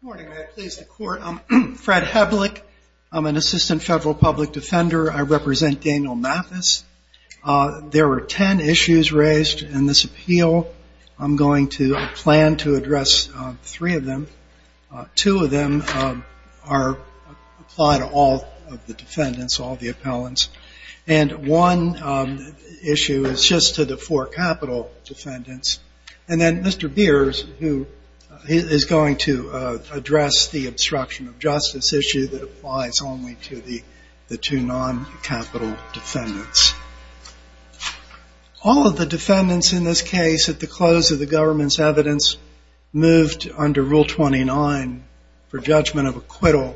Good morning, may I please the court. I'm Fred Heblick. I'm an assistant federal public defender. I represent Daniel Mathis. There were ten issues raised in this appeal. I'm going to plan to address three of them. Two of them are applied to all of the defendants, all of the appellants. And one issue is just to the four capital defendants. And then Mr. Beers, who is going to address the four capital defendants. To address the obstruction of justice issue that applies only to the two non-capital defendants. All of the defendants in this case, at the close of the government's evidence, moved under Rule 29 for judgment of acquittal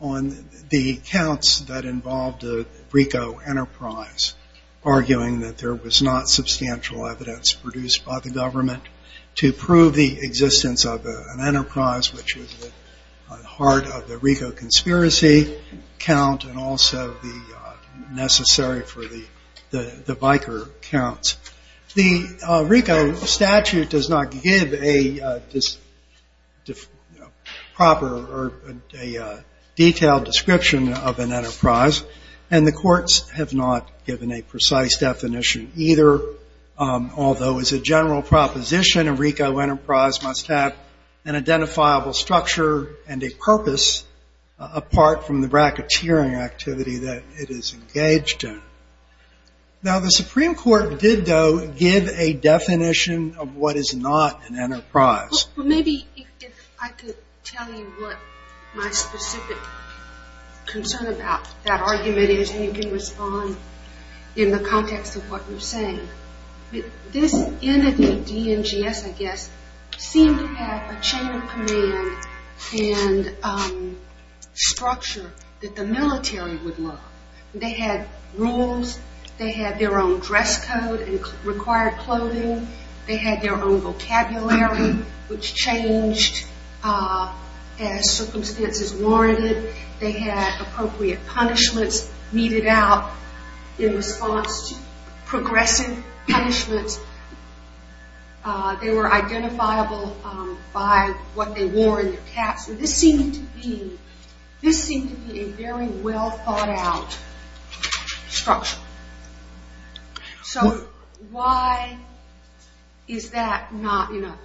on the counts that involved a RICO enterprise, arguing that there was not substantial evidence produced by the government to prove the existence of an enterprise. Which was the heart of the RICO conspiracy count and also the necessary for the biker counts. The RICO statute does not give a proper detailed description of an enterprise. And the courts have not given a precise definition either. Although as a general proposition, a RICO enterprise must have an identifiable structure and a purpose apart from the racketeering activity that it is engaged in. Now the Supreme Court did, though, give a definition of what is not an enterprise. Well maybe if I could tell you what my specific concern about that argument is and you can respond in the context of what you're saying. This entity, DMGS I guess, seemed to have a chain of command and structure that the military would love. They had rules. They had their own dress code and required clothing. They had their own vocabulary, which changed as circumstances warranted. They had appropriate punishments meted out in response to progressive punishments. They were identifiable by what they wore and their caps. This seemed to be a very well thought out structure. So why is that not enough?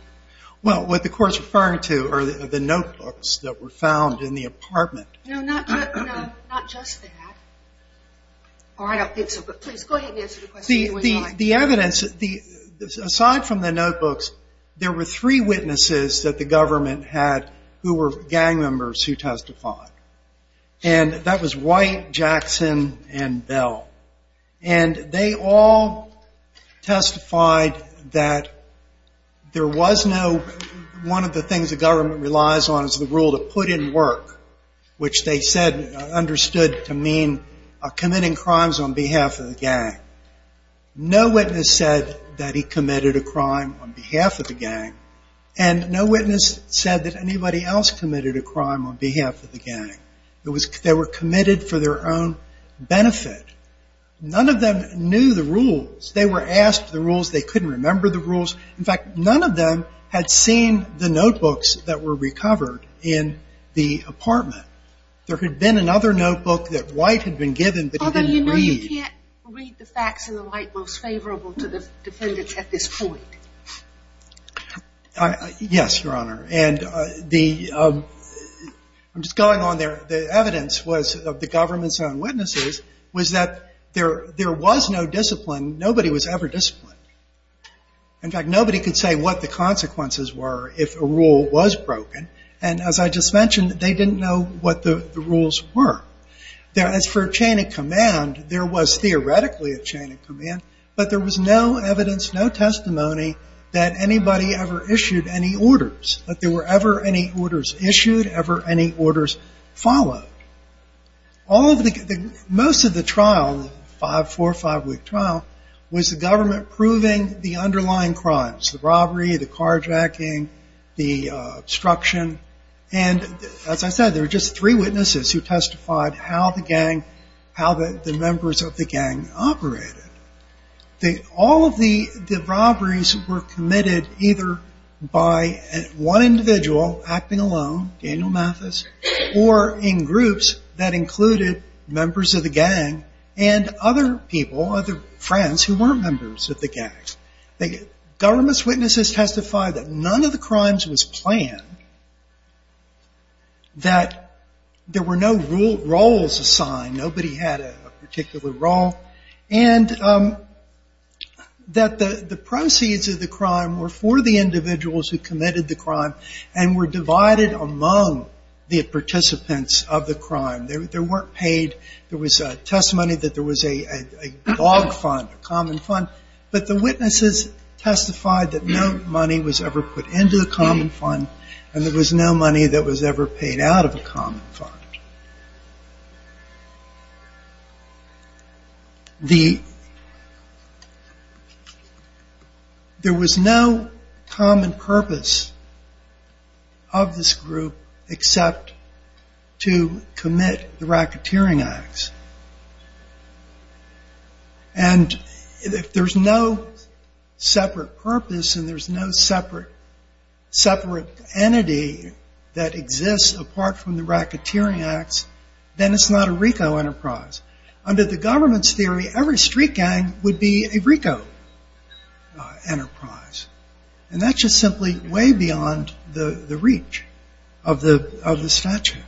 Well what the court is referring to are the notebooks that were found in the apartment. No, not just that. Or I don't think so. But please go ahead and answer the question. The evidence, aside from the notebooks, there were three witnesses that the government had who were gang members who testified. And that was White, Jackson, and Bell. And they all testified that one of the things the government relies on is the rule to put in work, which they understood to mean committing crimes on behalf of the gang. No witness said that he committed a crime on behalf of the gang. And no witness said that anybody else committed a crime on behalf of the gang. They were committed for their own benefit. None of them knew the rules. They were asked the rules. They couldn't remember the rules. In fact, none of them had seen the notebooks that were recovered in the apartment. There had been another notebook that White had been given, but he didn't read. Although you know you can't read the facts in the light most favorable to the defendants at this point. Yes, Your Honor. And the, I'm just going on there. The evidence was of the government's own witnesses was that there was no discipline. Nobody was ever disciplined. In fact, nobody could say what the consequences were if a rule was broken. And as I just mentioned, they didn't know what the rules were. As for chain of command, there was theoretically a chain of command, but there was no evidence, no testimony that anybody ever issued any orders. That there were ever any orders issued, ever any orders followed. All of the, most of the trial, five, four, five week trial, was the government proving the underlying crimes. The robbery, the carjacking, the obstruction. And as I said, there were just three witnesses who testified how the gang, how the members of the gang operated. All of the robberies were committed either by one individual acting alone, Daniel Mathis, or in groups that included members of the gang and other people, other friends who weren't members of the gang. The government's witnesses testified that none of the crimes was planned, that there were no rules assigned, nobody had a particular role. And that the proceeds of the crime were for the individuals who committed the crime, and were divided among the participants of the crime. There weren't paid, there was testimony that there was a log fund, a common fund. But the witnesses testified that no money was ever put into a common fund, and there was no money that was ever paid out of a common fund. There was no common purpose of this group except to commit the racketeering acts. And if there's no separate purpose, and there's no separate entity that exists apart from the racketeering acts, then it's not a RICO enterprise. Under the government's theory, every street gang would be a RICO enterprise. And that's just simply way beyond the reach of the statute.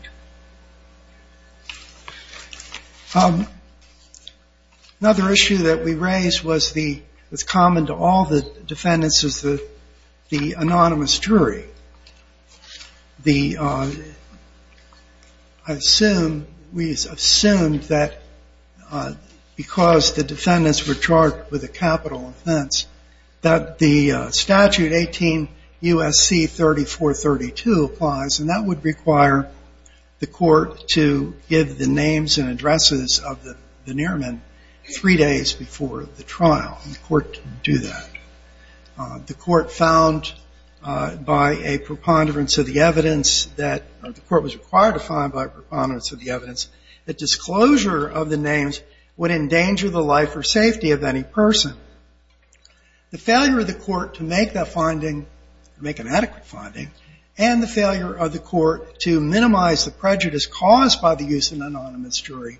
Another issue that we raised was common to all the defendants of the anonymous jury. We assumed that because the defendants were charged with a capital offense, that the statute 18 U.S.C. 3432 applies, and that would require the court to give the names and addresses of the nearmen three days before the trial. The court didn't do that. The court found by a preponderance of the evidence that the court was required to find by a preponderance of the evidence that disclosure of the names would endanger the life or safety of any person. The failure of the court to make that finding, make an adequate finding, and the failure of the court to minimize the prejudice caused by the use of an anonymous jury,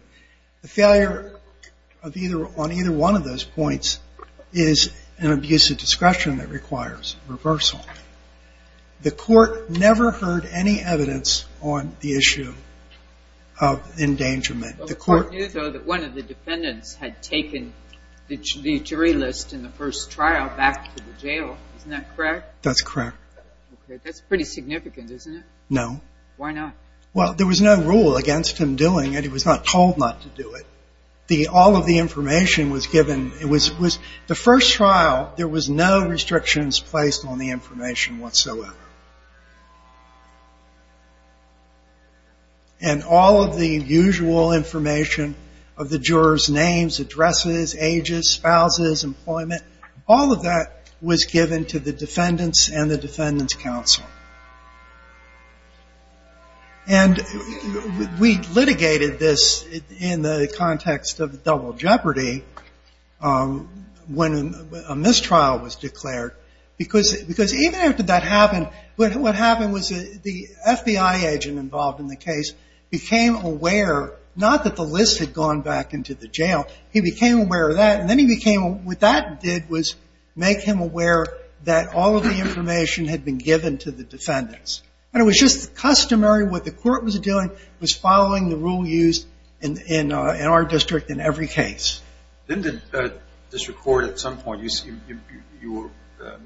the failure on either one of those points is an abuse of discretion that requires reversal. The court never heard any evidence on the issue of endangerment. The court… But the court knew, though, that one of the defendants had taken the jury list in the first trial back to the jail. Isn't that correct? That's correct. Okay. That's pretty significant, isn't it? No. Why not? Well, there was no rule against him doing it. He was not told not to do it. All of the information was given. The first trial, there was no restrictions placed on the information whatsoever. And all of the usual information of the jurors' names, addresses, ages, spouses, employment, all of that was given to the defendants and the defendants' counsel. And we litigated this in the context of double jeopardy when a mistrial was declared, because even after that happened, what happened was the FBI agent involved in the case became aware, not that the list had gone back into the jail, he became aware of that, and then what that did was make him aware that all of the information had been given to the defendants. And it was just customary. What the court was doing was following the rule used in our district in every case. Didn't the district court at some point… You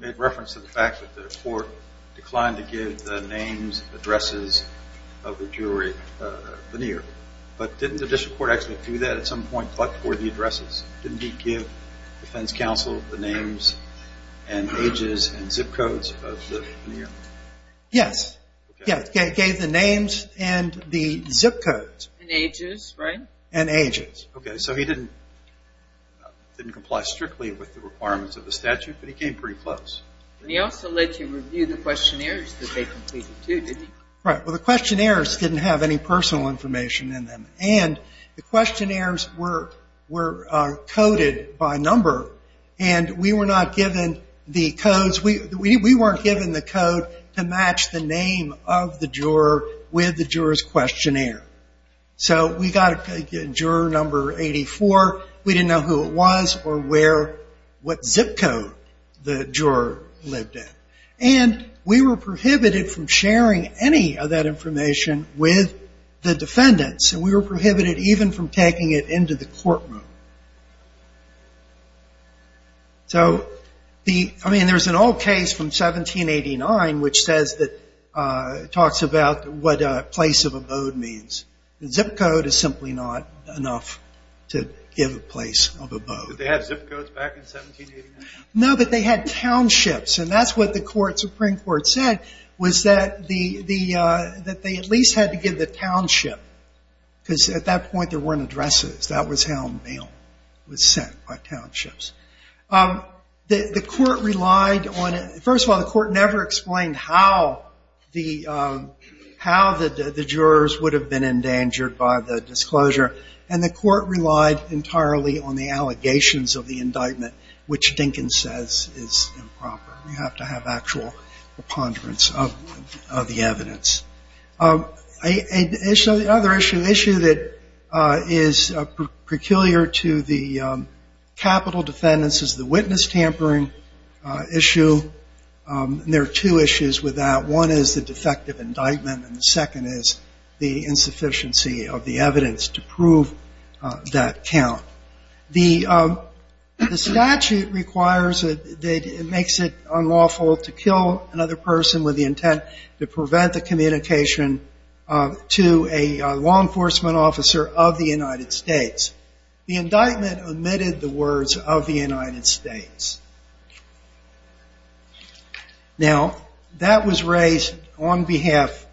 made reference to the fact that the court declined to give the names, addresses of the jury veneer. But didn't the district court actually do that at some point, but for the addresses? Didn't he give defense counsel the names and ages and zip codes of the veneer? Yes. He gave the names and the zip codes. And ages, right? And ages. Okay. So he didn't comply strictly with the requirements of the statute, but he came pretty close. He also let you review the questionnaires that they completed, too, didn't he? Right. Well, the questionnaires didn't have any personal information in them. And the questionnaires were coded by number, and we were not given the codes. We weren't given the code to match the name of the juror with the juror's questionnaire. So we got juror number 84. We didn't know who it was or what zip code the juror lived in. And we were prohibited from sharing any of that information with the defendants. And we were prohibited even from taking it into the courtroom. So, I mean, there's an old case from 1789 which talks about what a place of abode means. A zip code is simply not enough to give a place of abode. Did they have zip codes back in 1789? No, but they had townships. And that's what the Supreme Court said was that they at least had to give the township because at that point there weren't addresses. That was how mail was sent, by townships. The court relied on it. First of all, the court never explained how the jurors would have been endangered by the disclosure. And the court relied entirely on the allegations of the indictment, which Dinkins says is improper. You have to have actual preponderance of the evidence. Another issue that is peculiar to the capital defendants is the witness tampering issue. And there are two issues with that. One is the defective indictment, and the second is the insufficiency of the evidence to prove that count. The statute requires that it makes it unlawful to kill another person with the intent to prevent the communication to a law enforcement officer of the United States. The indictment omitted the words of the United States. Now, that was raised on behalf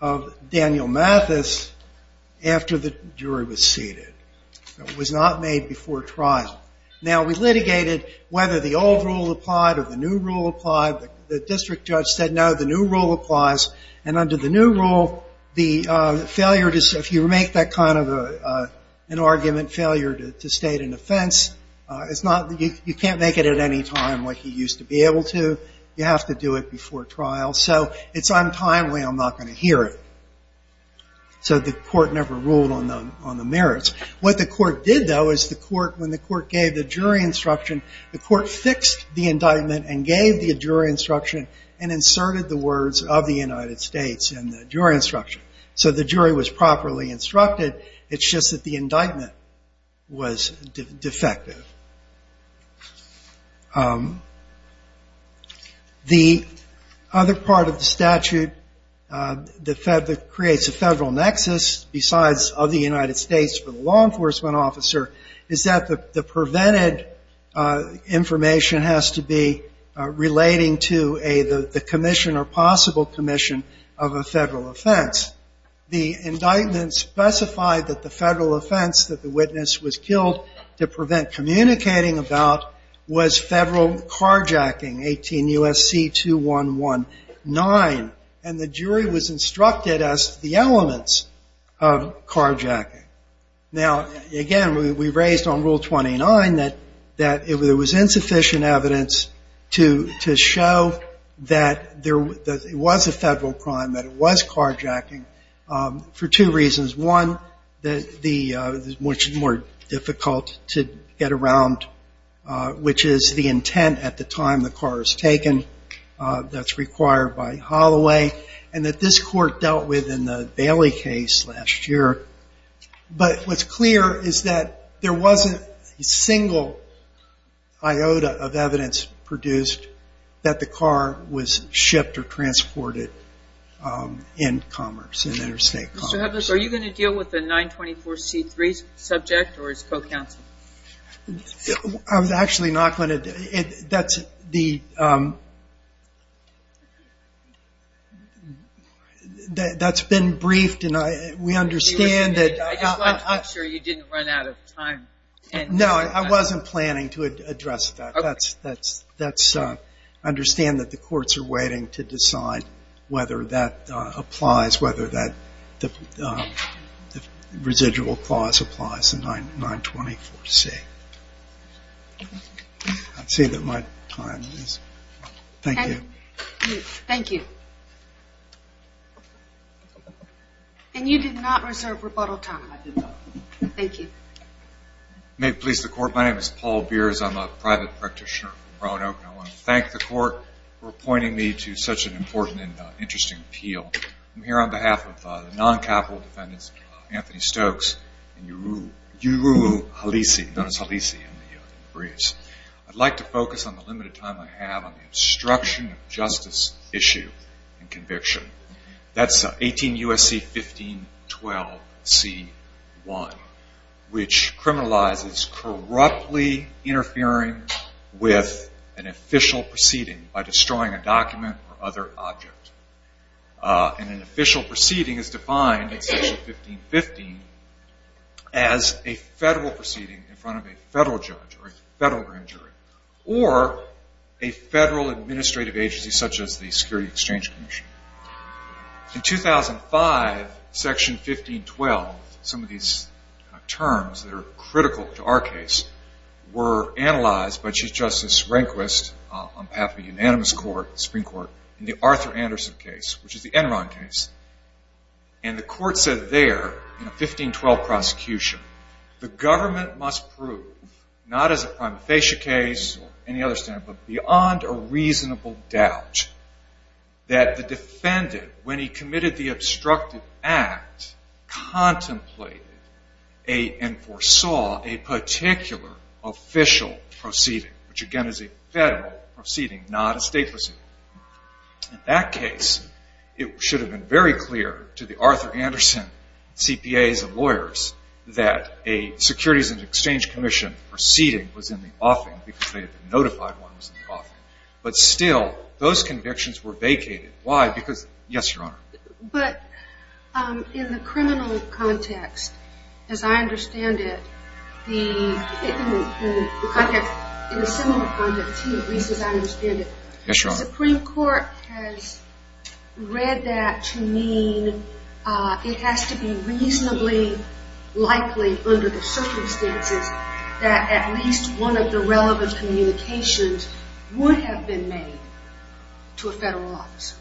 of Daniel Mathis after the jury was seated. It was not made before trial. Now, we litigated whether the old rule applied or the new rule applied. The district judge said no, the new rule applies. And under the new rule, if you make that kind of an argument, failure to state an offense, you can't make it at any time like you used to be able to. You have to do it before trial. So it's untimely. I'm not going to hear it. So the court never ruled on the merits. What the court did, though, is when the court gave the jury instruction, the court fixed the indictment and gave the jury instruction and inserted the words of the United States in the jury instruction. So the jury was properly instructed. It's just that the indictment was defective. The other part of the statute that creates a federal nexus, besides of the United States for the law enforcement officer, is that the prevented information has to be relating to the commission or possible commission of a federal offense. The indictment specified that the federal offense that the witness was killed to prevent communicating about was federal carjacking, 18 U.S.C. 2-1-1-9. And the jury was instructed as to the elements of carjacking. Now, again, we raised on Rule 29 that there was insufficient evidence to show that it was a federal crime, that it was carjacking, for two reasons. One, which is more difficult to get around, which is the intent at the time the car was taken that's required by Holloway and that this court dealt with in the Bailey case last year. But what's clear is that there wasn't a single iota of evidence produced that the car was shipped or transported in commerce, in interstate commerce. Are you going to deal with the 924C3 subject or its co-counsel? I was actually not going to. That's been briefed and we understand that... I'm sure you didn't run out of time. No, I wasn't planning to address that. Let's understand that the courts are waiting to decide whether that applies, whether the residual clause applies to 924C. I'd say that my time is up. Thank you. Thank you. And you did not reserve rebuttal time. Thank you. May it please the court, my name is Paul Beers. I'm a private practitioner from Brown Oak. I want to thank the court for appointing me to such an important and interesting appeal. I'm here on behalf of the non-capital defendants, Anthony Stokes and Yuru Halisi. I'd like to focus on the limited time I have on the obstruction of justice issue and conviction. That's 18 U.S.C. 1512C1, which criminalizes corruptly interfering with an official proceeding by destroying a document or other object. An official proceeding is defined in section 1515 as a federal proceeding in front of a federal judge or a federal administrative agency such as the Security Exchange Commission. In 2005, section 1512, some of these terms that are critical to our case, were analyzed by Chief Justice Rehnquist on behalf of the Unanimous Supreme Court in the Arthur Anderson case, which is the Enron case. And the court said there in a 1512 prosecution, the government must prove, not as a prima facie case or any other standard, but beyond a reasonable doubt that the defendant, when he committed the obstructed act, contemplated and foresaw a particular official proceeding, which again is a federal proceeding, not a state proceeding. In that case, it should have been very clear to the Arthur Anderson CPAs and lawyers that a Securities and Exchange Commission proceeding was in the offing because they had been notified one was in the offing. But still, those convictions were vacated. Why? Because, yes, Your Honor. But in the criminal context, as I understand it, in the civil context, at least as I understand it, the Supreme Court has read that to mean it has to be reasonably likely under the circumstances that at least one of the relevant communications would have been made to a federal officer.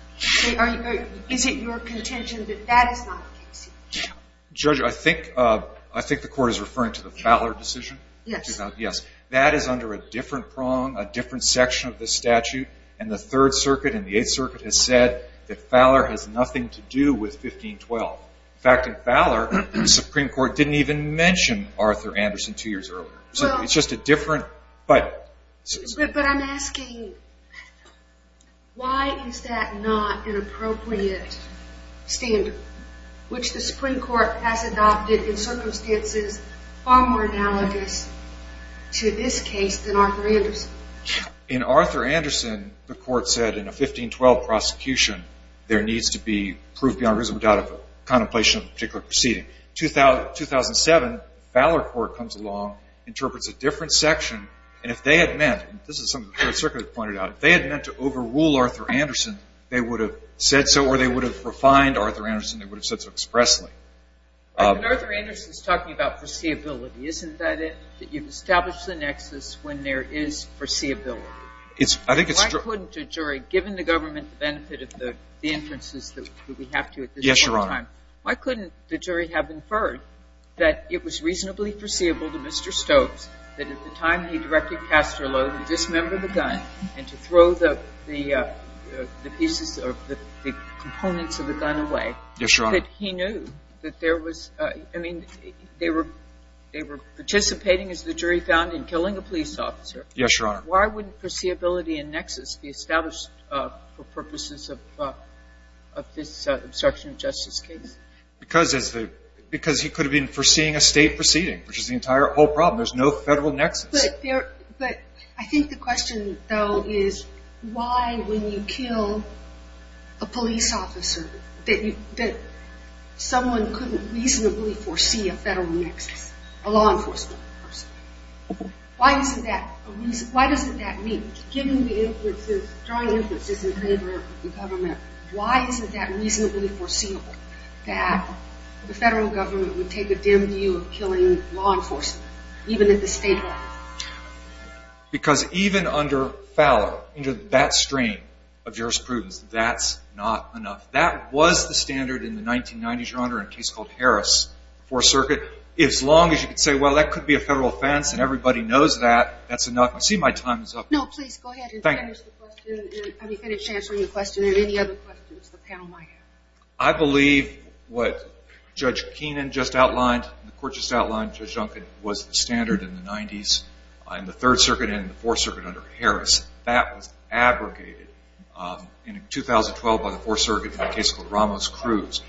Is it your contention that that is not the case? Judge, I think the Court is referring to the Fowler decision. Yes. Yes. That is under a different prong, a different section of the statute, and the Third Circuit and the Eighth Circuit has said that Fowler has nothing to do with 1512. In fact, in Fowler, the Supreme Court didn't even mention Arthur Anderson two years earlier. So it's just a different, but... But I'm asking why is that not an appropriate standard, which the Supreme Court has adopted in circumstances far more analogous to this case than Arthur Anderson? In Arthur Anderson, the Court said in a 1512 prosecution, there needs to be proof beyond reasonable doubt of a contemplation of a particular proceeding. 2007, Fowler Court comes along, interprets a different section, and if they had meant, and this is something the Third Circuit pointed out, if they had meant to overrule Arthur Anderson, they would have said so or they would have refined Arthur Anderson, they would have said so expressly. But Arthur Anderson is talking about foreseeability. Isn't that it? That you've established the nexus when there is foreseeability. I think it's true. Why couldn't a jury, given the government benefit of the inferences that we have to at this point in time... Yes, Your Honor. Why couldn't the jury have inferred that it was reasonably foreseeable to Mr. Stokes that at the time he directed Castor Loew to dismember the gun and to throw the pieces or the components of the gun away... Yes, Your Honor. ...that he knew that there was, I mean, they were participating, as the jury found, in killing a police officer. Yes, Your Honor. Why wouldn't foreseeability and nexus be established for purposes of this obstruction of justice case? Because he could have been foreseeing a State proceeding, which is the entire whole problem. There's no Federal nexus. But I think the question, though, is why, when you kill a police officer, that someone couldn't reasonably foresee a Federal nexus, a law enforcement person. Why doesn't that mean, given the inferences, drawing inferences in favor of the government, why isn't that reasonably foreseeable, that the Federal government would take a dim view of killing law enforcement, even at the State level? Because even under Fowler, under that stream of jurisprudence, that's not enough. That was the standard in the 1990s, Your Honor, in a case called Harris, Fourth Circuit. As long as you could say, well, that could be a Federal offense and everybody knows that, that's enough. I see my time is up. No, please go ahead and finish the question. Thank you. And have you finished answering the question and any other questions the panel might have? I believe what Judge Keenan just outlined, the court just outlined, Judge Duncan, was the standard in the 90s in the Third Circuit and the Fourth Circuit under Harris. That was abrogated in 2012 by the Fourth Circuit in a case called Ramos-Cruz.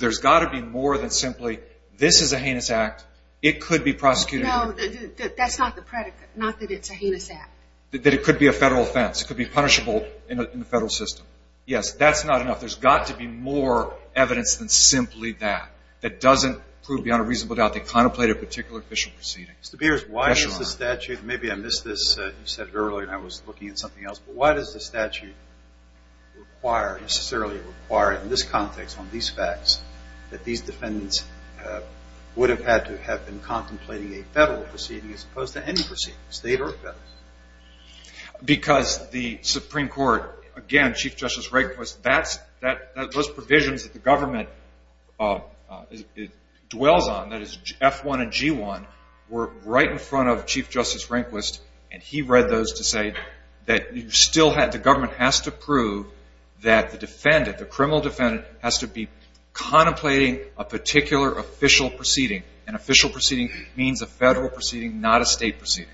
There's got to be more than simply this is a heinous act. It could be prosecuted. No, that's not the predicate, not that it's a heinous act. That it could be a Federal offense. It could be punishable in the Federal system. Yes, that's not enough. There's got to be more evidence than simply that, that doesn't prove beyond a reasonable doubt they contemplated a particular official proceeding. Mr. Beers, why does the statute, maybe I missed this, you said it earlier and I was looking at something else, but why does the statute require, necessarily require in this context on these facts, that these defendants would have had to have been contemplating a Federal proceeding as opposed to any proceeding, State or Federal? Because the Supreme Court, again, Chief Justice Rehnquist, those provisions that the government dwells on, that is F-1 and G-1, were right in front of Chief Justice Rehnquist, and he read those to say that the government has to prove that the defendant, the criminal defendant, has to be contemplating a particular official proceeding. An official proceeding means a Federal proceeding, not a State proceeding.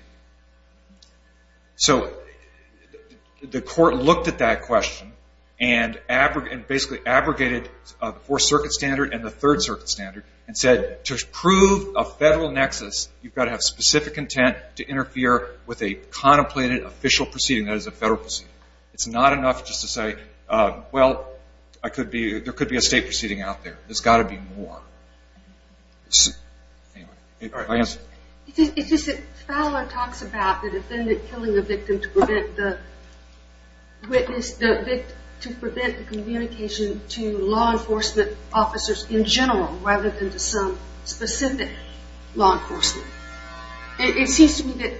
So the court looked at that question and basically abrogated the Fourth Circuit standard and the Third Circuit standard and said to prove a Federal nexus, you've got to have specific intent to interfere with a contemplated official proceeding, that is a Federal proceeding. It's not enough just to say, well, there could be a State proceeding out there. There's got to be more. It's just that Fowler talks about the defendant killing the victim to prevent the communication to law enforcement officers in general rather than to some specific law enforcement. It seems to me that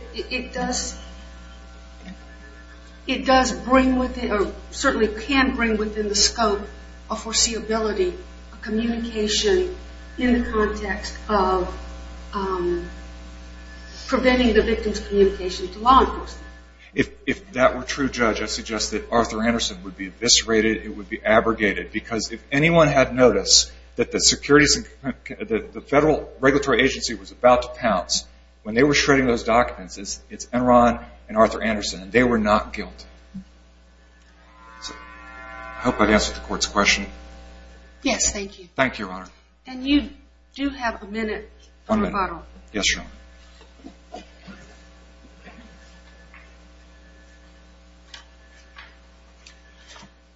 it does bring within, or certainly can bring within the scope of foreseeability a communication in the context of preventing the victim's communication to law enforcement. If that were true, Judge, I suggest that Arthur Anderson would be eviscerated, it would be abrogated, because if anyone had noticed that the Federal Regulatory Agency was about to pounce when they were shredding those documents, it's Enron and Arthur Anderson, and they were not guilty. I hope I've answered the Court's question. Yes, thank you. Thank you, Your Honor. And you do have a minute for rebuttal. Yes, Your Honor.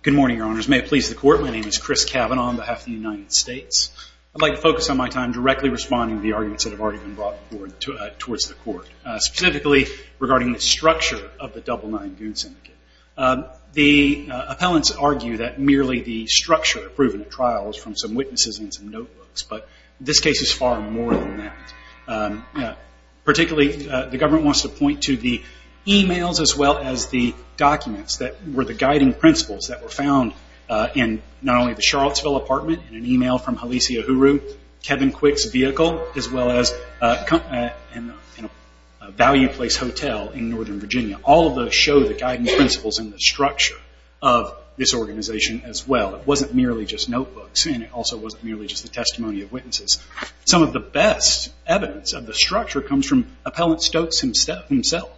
Good morning, Your Honors. May it please the Court, my name is Chris Cavanaugh on behalf of the United States. I'd like to focus on my time directly responding to the arguments that have already been brought forward towards the Court, specifically regarding the structure of the Double Nine Goon Syndicate. The appellants argue that merely the structure of proven trials from some witnesses and some notebooks, but this case is far more than that. Particularly, the government wants to point to the e-mails as well as the documents that were the guiding principles that were found in not only the Charlottesville apartment, in an e-mail from Hallecia Huru, Kevin Quick's vehicle, as well as a Value Place Hotel in Northern Virginia. All of those show the guiding principles and the structure of this organization as well. It wasn't merely just notebooks, and it also wasn't merely just the testimony of witnesses. Some of the best evidence of the structure comes from Appellant Stokes himself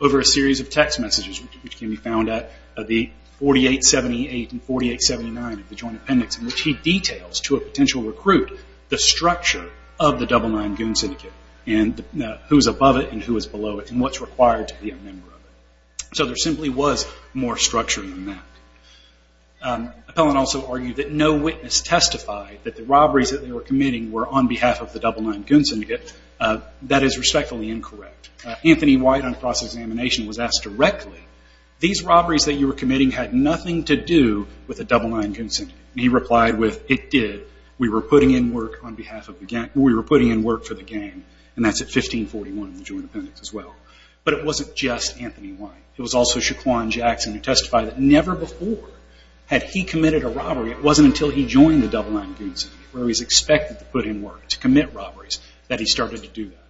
over a series of text messages, which can be found at the 4878 and 4879 of the Joint Appendix, in which he details to a potential recruit the structure of the Double Nine Goon Syndicate, and who's above it and who is below it, and what's required to be a member of it. So there simply was more structure than that. Appellant also argued that no witness testified that the robberies that they were committing were on behalf of the Double Nine Goon Syndicate. That is respectfully incorrect. Anthony White on cross-examination was asked directly, these robberies that you were committing had nothing to do with the Double Nine Goon Syndicate. He replied with, it did. We were putting in work for the gang, and that's at 1541 in the Joint Appendix as well. But it wasn't just Anthony White. It was also Shaquan Jackson who testified that never before had he committed a robbery, it wasn't until he joined the Double Nine Goon Syndicate, where he was expected to put in work to commit robberies, that he started to do that.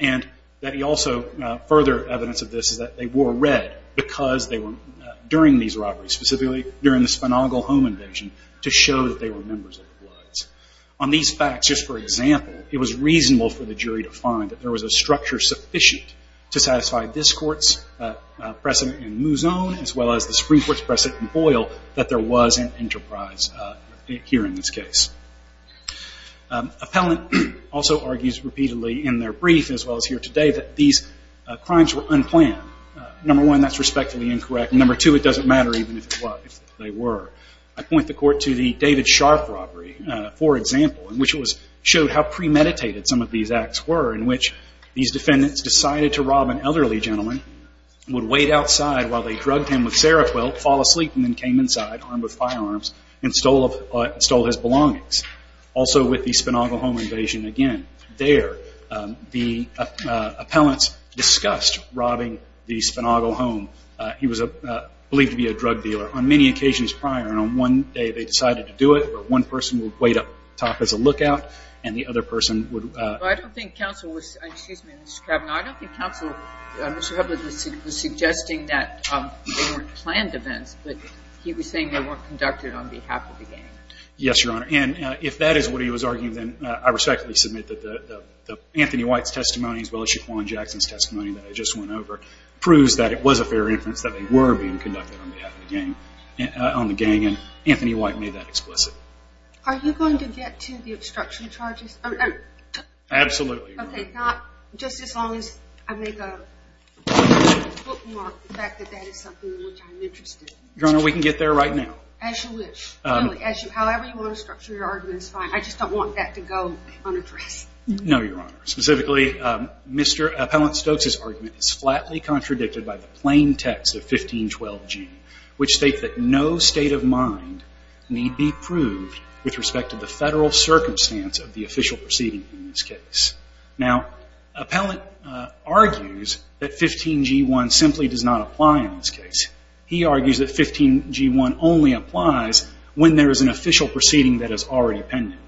And that he also, further evidence of this is that they wore red because they were, during these robberies, specifically during the Spinaugle home invasion, to show that they were members of the Bloods. On these facts, just for example, it was reasonable for the jury to find that there was a structure sufficient to satisfy this court's precedent in Mouzon as well as the Supreme Court's precedent in Boyle that there was an enterprise here in this case. Appellant also argues repeatedly in their brief as well as here today that these crimes were unplanned. Number one, that's respectfully incorrect. Number two, it doesn't matter even if it was, if they were. I point the court to the David Sharp robbery, for example, in which it showed how premeditated some of these acts were, in which these defendants decided to rob an elderly gentleman, would wait outside while they drugged him with Seroquel, fall asleep, and then came inside, armed with firearms, and stole his belongings. Also with the Spinaugle home invasion, again, there, the appellants discussed robbing the Spinaugle home. He was believed to be a drug dealer. On many occasions prior, and on one day they decided to do it, but one person would wait up top as a lookout and the other person would. I don't think counsel, Mr. Hubbard, was suggesting that they weren't planned events, but he was saying they weren't conducted on behalf of the gang. Yes, Your Honor. And if that is what he was arguing, then I respectfully submit that Anthony White's testimony as well as Shaquan Jackson's testimony that I just went over proves that it was a fair inference that they were being conducted on behalf of the gang, on the gang, and Anthony White made that explicit. Are you going to get to the obstruction charges? Absolutely. Okay, not just as long as I make a bookmark the fact that that is something which I'm interested in. Your Honor, we can get there right now. As you wish. However you want to structure your argument is fine. I just don't want that to go unaddressed. No, Your Honor. Specifically, Mr. Appellant Stokes's argument is flatly contradicted by the plain text of 1512G, which states that no state of mind need be proved with respect to the federal circumstance of the official proceeding in this case. Now, Appellant argues that 15G1 simply does not apply in this case. He argues that 15G1 only applies when there is an official proceeding that is already pending.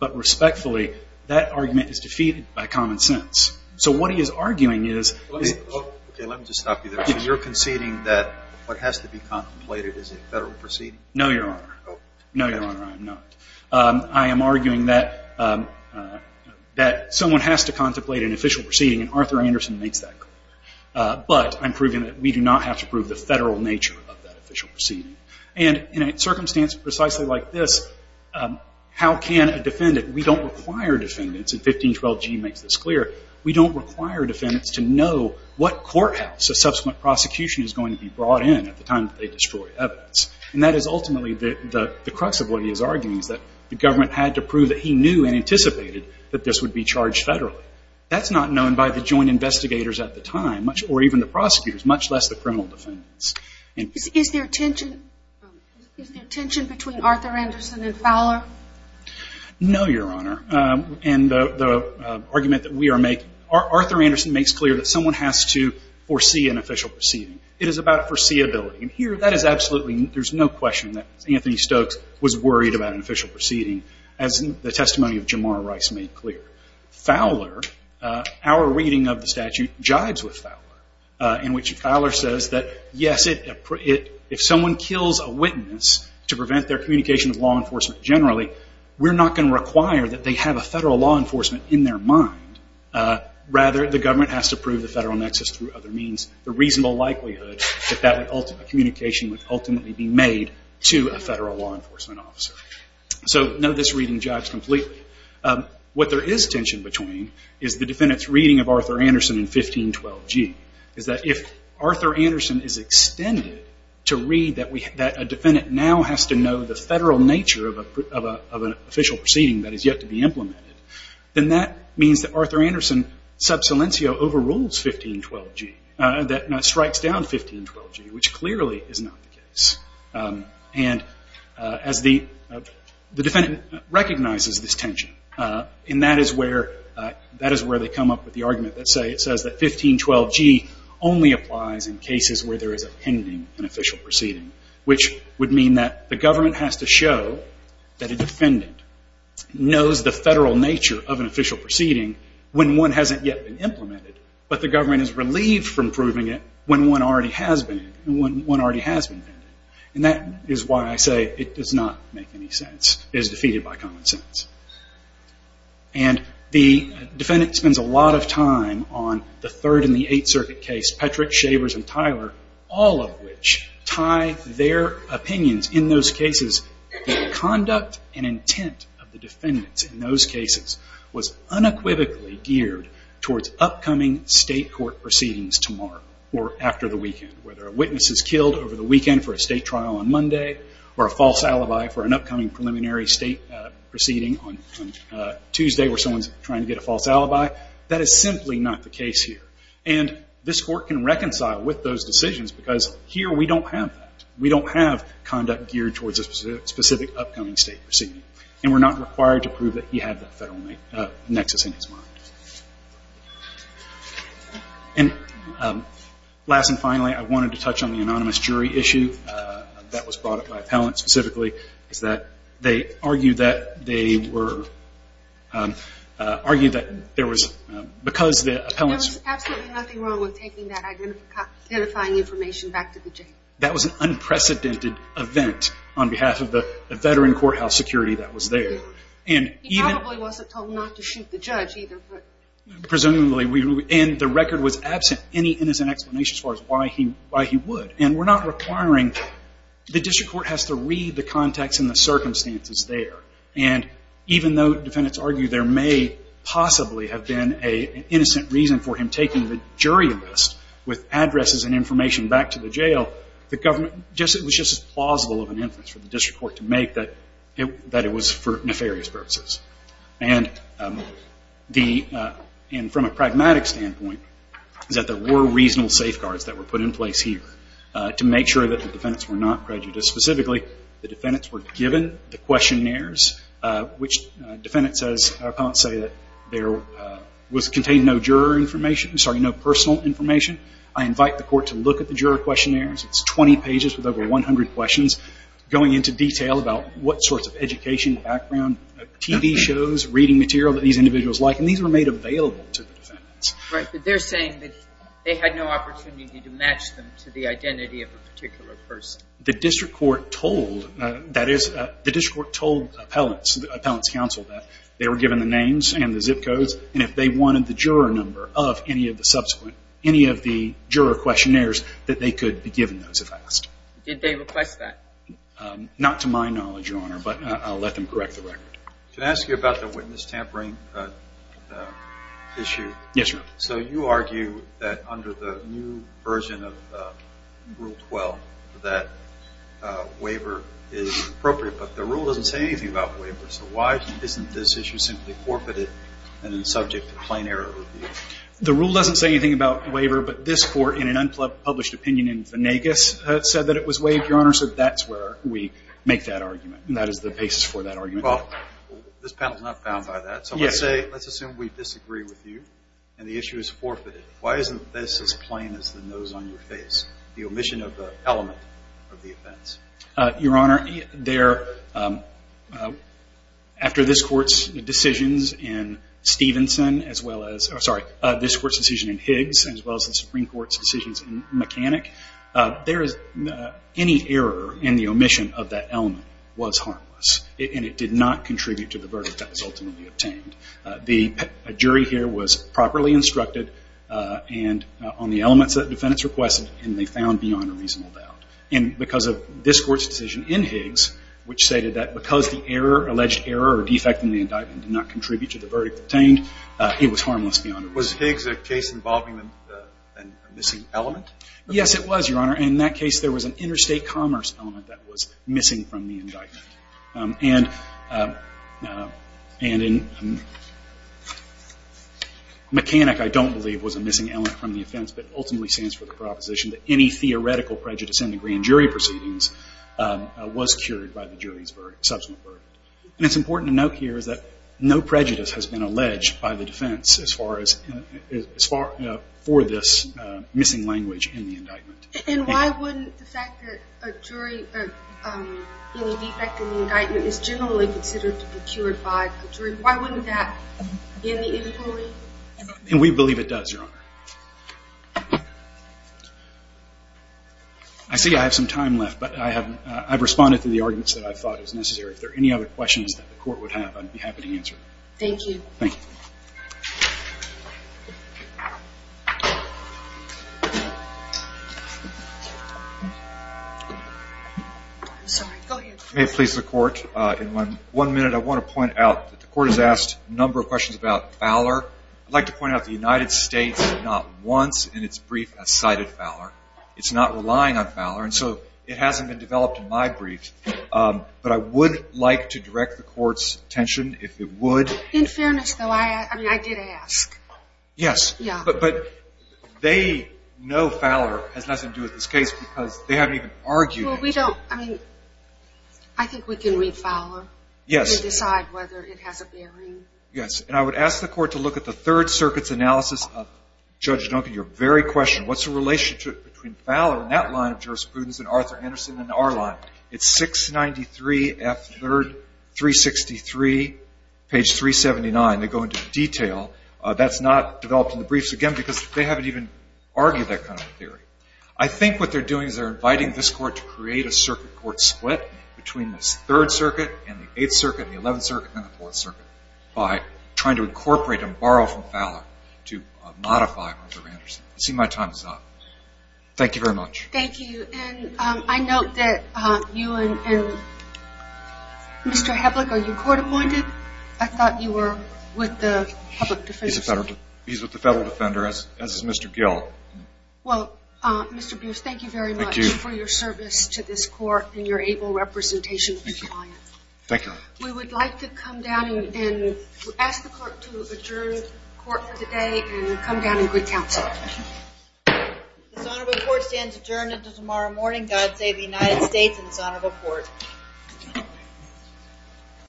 But respectfully, that argument is defeated by common sense. So what he is arguing is – Okay, let me just stop you there. So you're conceding that what has to be contemplated is a federal proceeding? No, Your Honor. No, Your Honor, I am not. I am arguing that someone has to contemplate an official proceeding, and Arthur Anderson makes that clear. But I'm proving that we do not have to prove the federal nature of that official proceeding. And in a circumstance precisely like this, how can a defendant – we don't require defendants, and 1512G makes this clear – we don't require defendants to know what courthouse a subsequent prosecution is going to be brought in at the time that they destroy evidence. And that is ultimately the crux of what he is arguing, is that the government had to prove that he knew and anticipated that this would be charged federally. That's not known by the joint investigators at the time, or even the prosecutors, much less the criminal defendants. Is there tension between Arthur Anderson and Fowler? No, Your Honor. And the argument that we are making – Arthur Anderson makes clear that someone has to foresee an official proceeding. It is about foreseeability. And here, that is absolutely – there's no question that Anthony Stokes was worried about an official proceeding, as the testimony of Jamar Rice made clear. Fowler – our reading of the statute jibes with Fowler, in which Fowler says that, yes, if someone kills a witness to prevent their communication with law enforcement generally, we're not going to require that they have a federal law enforcement in their mind. Rather, the government has to prove the federal nexus through other means, the reasonable likelihood that that communication would ultimately be made to a federal law enforcement officer. So, no, this reading jibes completely. What there is tension between is the defendant's reading of Arthur Anderson in 1512g, is that if Arthur Anderson is extended to read that a defendant now has to know the federal nature of an official proceeding that is yet to be implemented, then that means that Arthur Anderson sub silencio overrules 1512g, that strikes down 1512g, which clearly is not the case. And as the defendant recognizes this tension, and that is where they come up with the argument that says that 1512g only applies in cases where there is a pending and official proceeding, which would mean that the government has to show that a defendant knows the federal nature of an official proceeding when one hasn't yet been implemented, but the government is relieved from proving it when one already has been, when one already has been. And that is why I say it does not make any sense, is defeated by common sense. And the defendant spends a lot of time on the Third and the Eighth Circuit case, Petrick, Shavers, and Tyler, all of which tie their opinions in those cases. The conduct and intent of the defendants in those cases was unequivocally geared towards upcoming state court proceedings tomorrow or after the weekend, whether a witness is killed over the weekend for a state trial on Monday or a false alibi for an upcoming preliminary state proceeding on Tuesday where someone is trying to get a false alibi. That is simply not the case here. And this Court can reconcile with those decisions because here we don't have that. We don't have conduct geared towards a specific upcoming state proceeding, and we're not required to prove that he had that federal nexus in his mind. And last and finally, I wanted to touch on the anonymous jury issue that was brought up by appellants specifically, is that they argued that there was, because the appellants... There was absolutely nothing wrong with taking that identifying information back to the jail. That was an unprecedented event on behalf of the veteran courthouse security that was there. He probably wasn't told not to shoot the judge either. Presumably. And the record was absent any innocent explanation as far as why he would. And we're not requiring... The district court has to read the context and the circumstances there. And even though defendants argue there may possibly have been an innocent reason for him taking the jury list with addresses and information back to the jail, the government... It was just as plausible of an inference for the district court to make that it was for nefarious purposes. And from a pragmatic standpoint, that there were reasonable safeguards that were put in place here to make sure that the defendants were not prejudiced. Specifically, the defendants were given the questionnaires, which defendants, as appellants say, contained no personal information. I invite the court to look at the juror questionnaires. It's 20 pages with over 100 questions going into detail about what sorts of education, background, TV shows, reading material that these individuals like. And these were made available to the defendants. Right, but they're saying that they had no opportunity to match them to the identity of a particular person. The district court told, that is, the district court told appellants, the appellants' counsel, that they were given the names and the zip codes, and if they wanted the juror number of any of the subsequent, any of the juror questionnaires, that they could be given those if asked. Did they request that? Not to my knowledge, Your Honor, but I'll let them correct the record. Should I ask you about the witness tampering issue? Yes, Your Honor. So you argue that under the new version of Rule 12, that waiver is appropriate, but the rule doesn't say anything about waiver. So why isn't this issue simply forfeited and then subject to plain error review? The rule doesn't say anything about waiver, but this court, in an unpublished opinion in Venegas, said that it was waived, Your Honor, so that's where we make that argument, and that is the basis for that argument. Well, this panel is not bound by that. So let's say, let's assume we disagree with you, and the issue is forfeited. Why isn't this as plain as the nose on your face, the omission of the element of the offense? Your Honor, there, after this Court's decisions in Stevenson, as well as, sorry, this Court's decision in Higgs, as well as the Supreme Court's decisions in Mechanic, there is, any error in the omission of that element was harmless, and it did not contribute to the verdict that was ultimately obtained. The jury here was properly instructed on the elements that defendants requested, and they found beyond a reasonable doubt. And because of this Court's decision in Higgs, which stated that because the error, alleged error or defect in the indictment did not contribute to the verdict obtained, it was harmless beyond a reasonable doubt. Was Higgs a case involving a missing element? Yes, it was, Your Honor. In that case, there was an interstate commerce element that was missing from the indictment. And in Mechanic, I don't believe, was a missing element from the offense, but ultimately stands for the proposition that any theoretical prejudice in the grand jury proceedings was cured by the jury's verdict, subsequent verdict. And it's important to note here that no prejudice has been alleged by the defense as far as, for this missing language in the indictment. And why wouldn't the fact that a jury, any defect in the indictment is generally considered to be cured by the jury? Why wouldn't that be in the inquiry? And we believe it does, Your Honor. I see I have some time left, but I've responded to the arguments that I thought was necessary. If there are any other questions that the Court would have, I'd be happy to answer them. Thank you. Thank you. I'm sorry. Go ahead. If it pleases the Court, in one minute I want to point out that the Court has asked a number of questions about Fowler. I'd like to point out the United States did not once in its brief have cited Fowler. It's not relying on Fowler, and so it hasn't been developed in my brief. But I would like to direct the Court's attention if it would. In fairness, though, I did ask. Yes. But they know Fowler has nothing to do with this case because they haven't even argued it. Well, we don't. I mean, I think we can read Fowler. Yes. And decide whether it has a bearing. Yes. And I would ask the Court to look at the Third Circuit's analysis of Judge Duncan. Your very question, what's the relationship between Fowler and that line of jurisprudence and Arthur Anderson and our line? It's 693 F. 3rd, 363, page 379. They go into detail. That's not developed in the briefs, again, because they haven't even argued that kind of theory. I think what they're doing is they're inviting this Court to create a circuit court split between the Third Circuit and the Eighth Circuit and the Eleventh Circuit and the Fourth Circuit by trying to incorporate and borrow from Fowler to modify Arthur Anderson. I see my time is up. Thank you very much. Thank you. And I note that you and Mr. Heblich, are you court-appointed? I thought you were with the Public Defender. He's with the Federal Defender, as is Mr. Gill. Well, Mr. Beers, thank you very much for your service to this Court and your able representation of the client. Thank you. We would like to come down and ask the Court to adjourn the Court for today and come down in good counsel. This honorable Court stands adjourned until tomorrow morning. God save the United States and this honorable Court.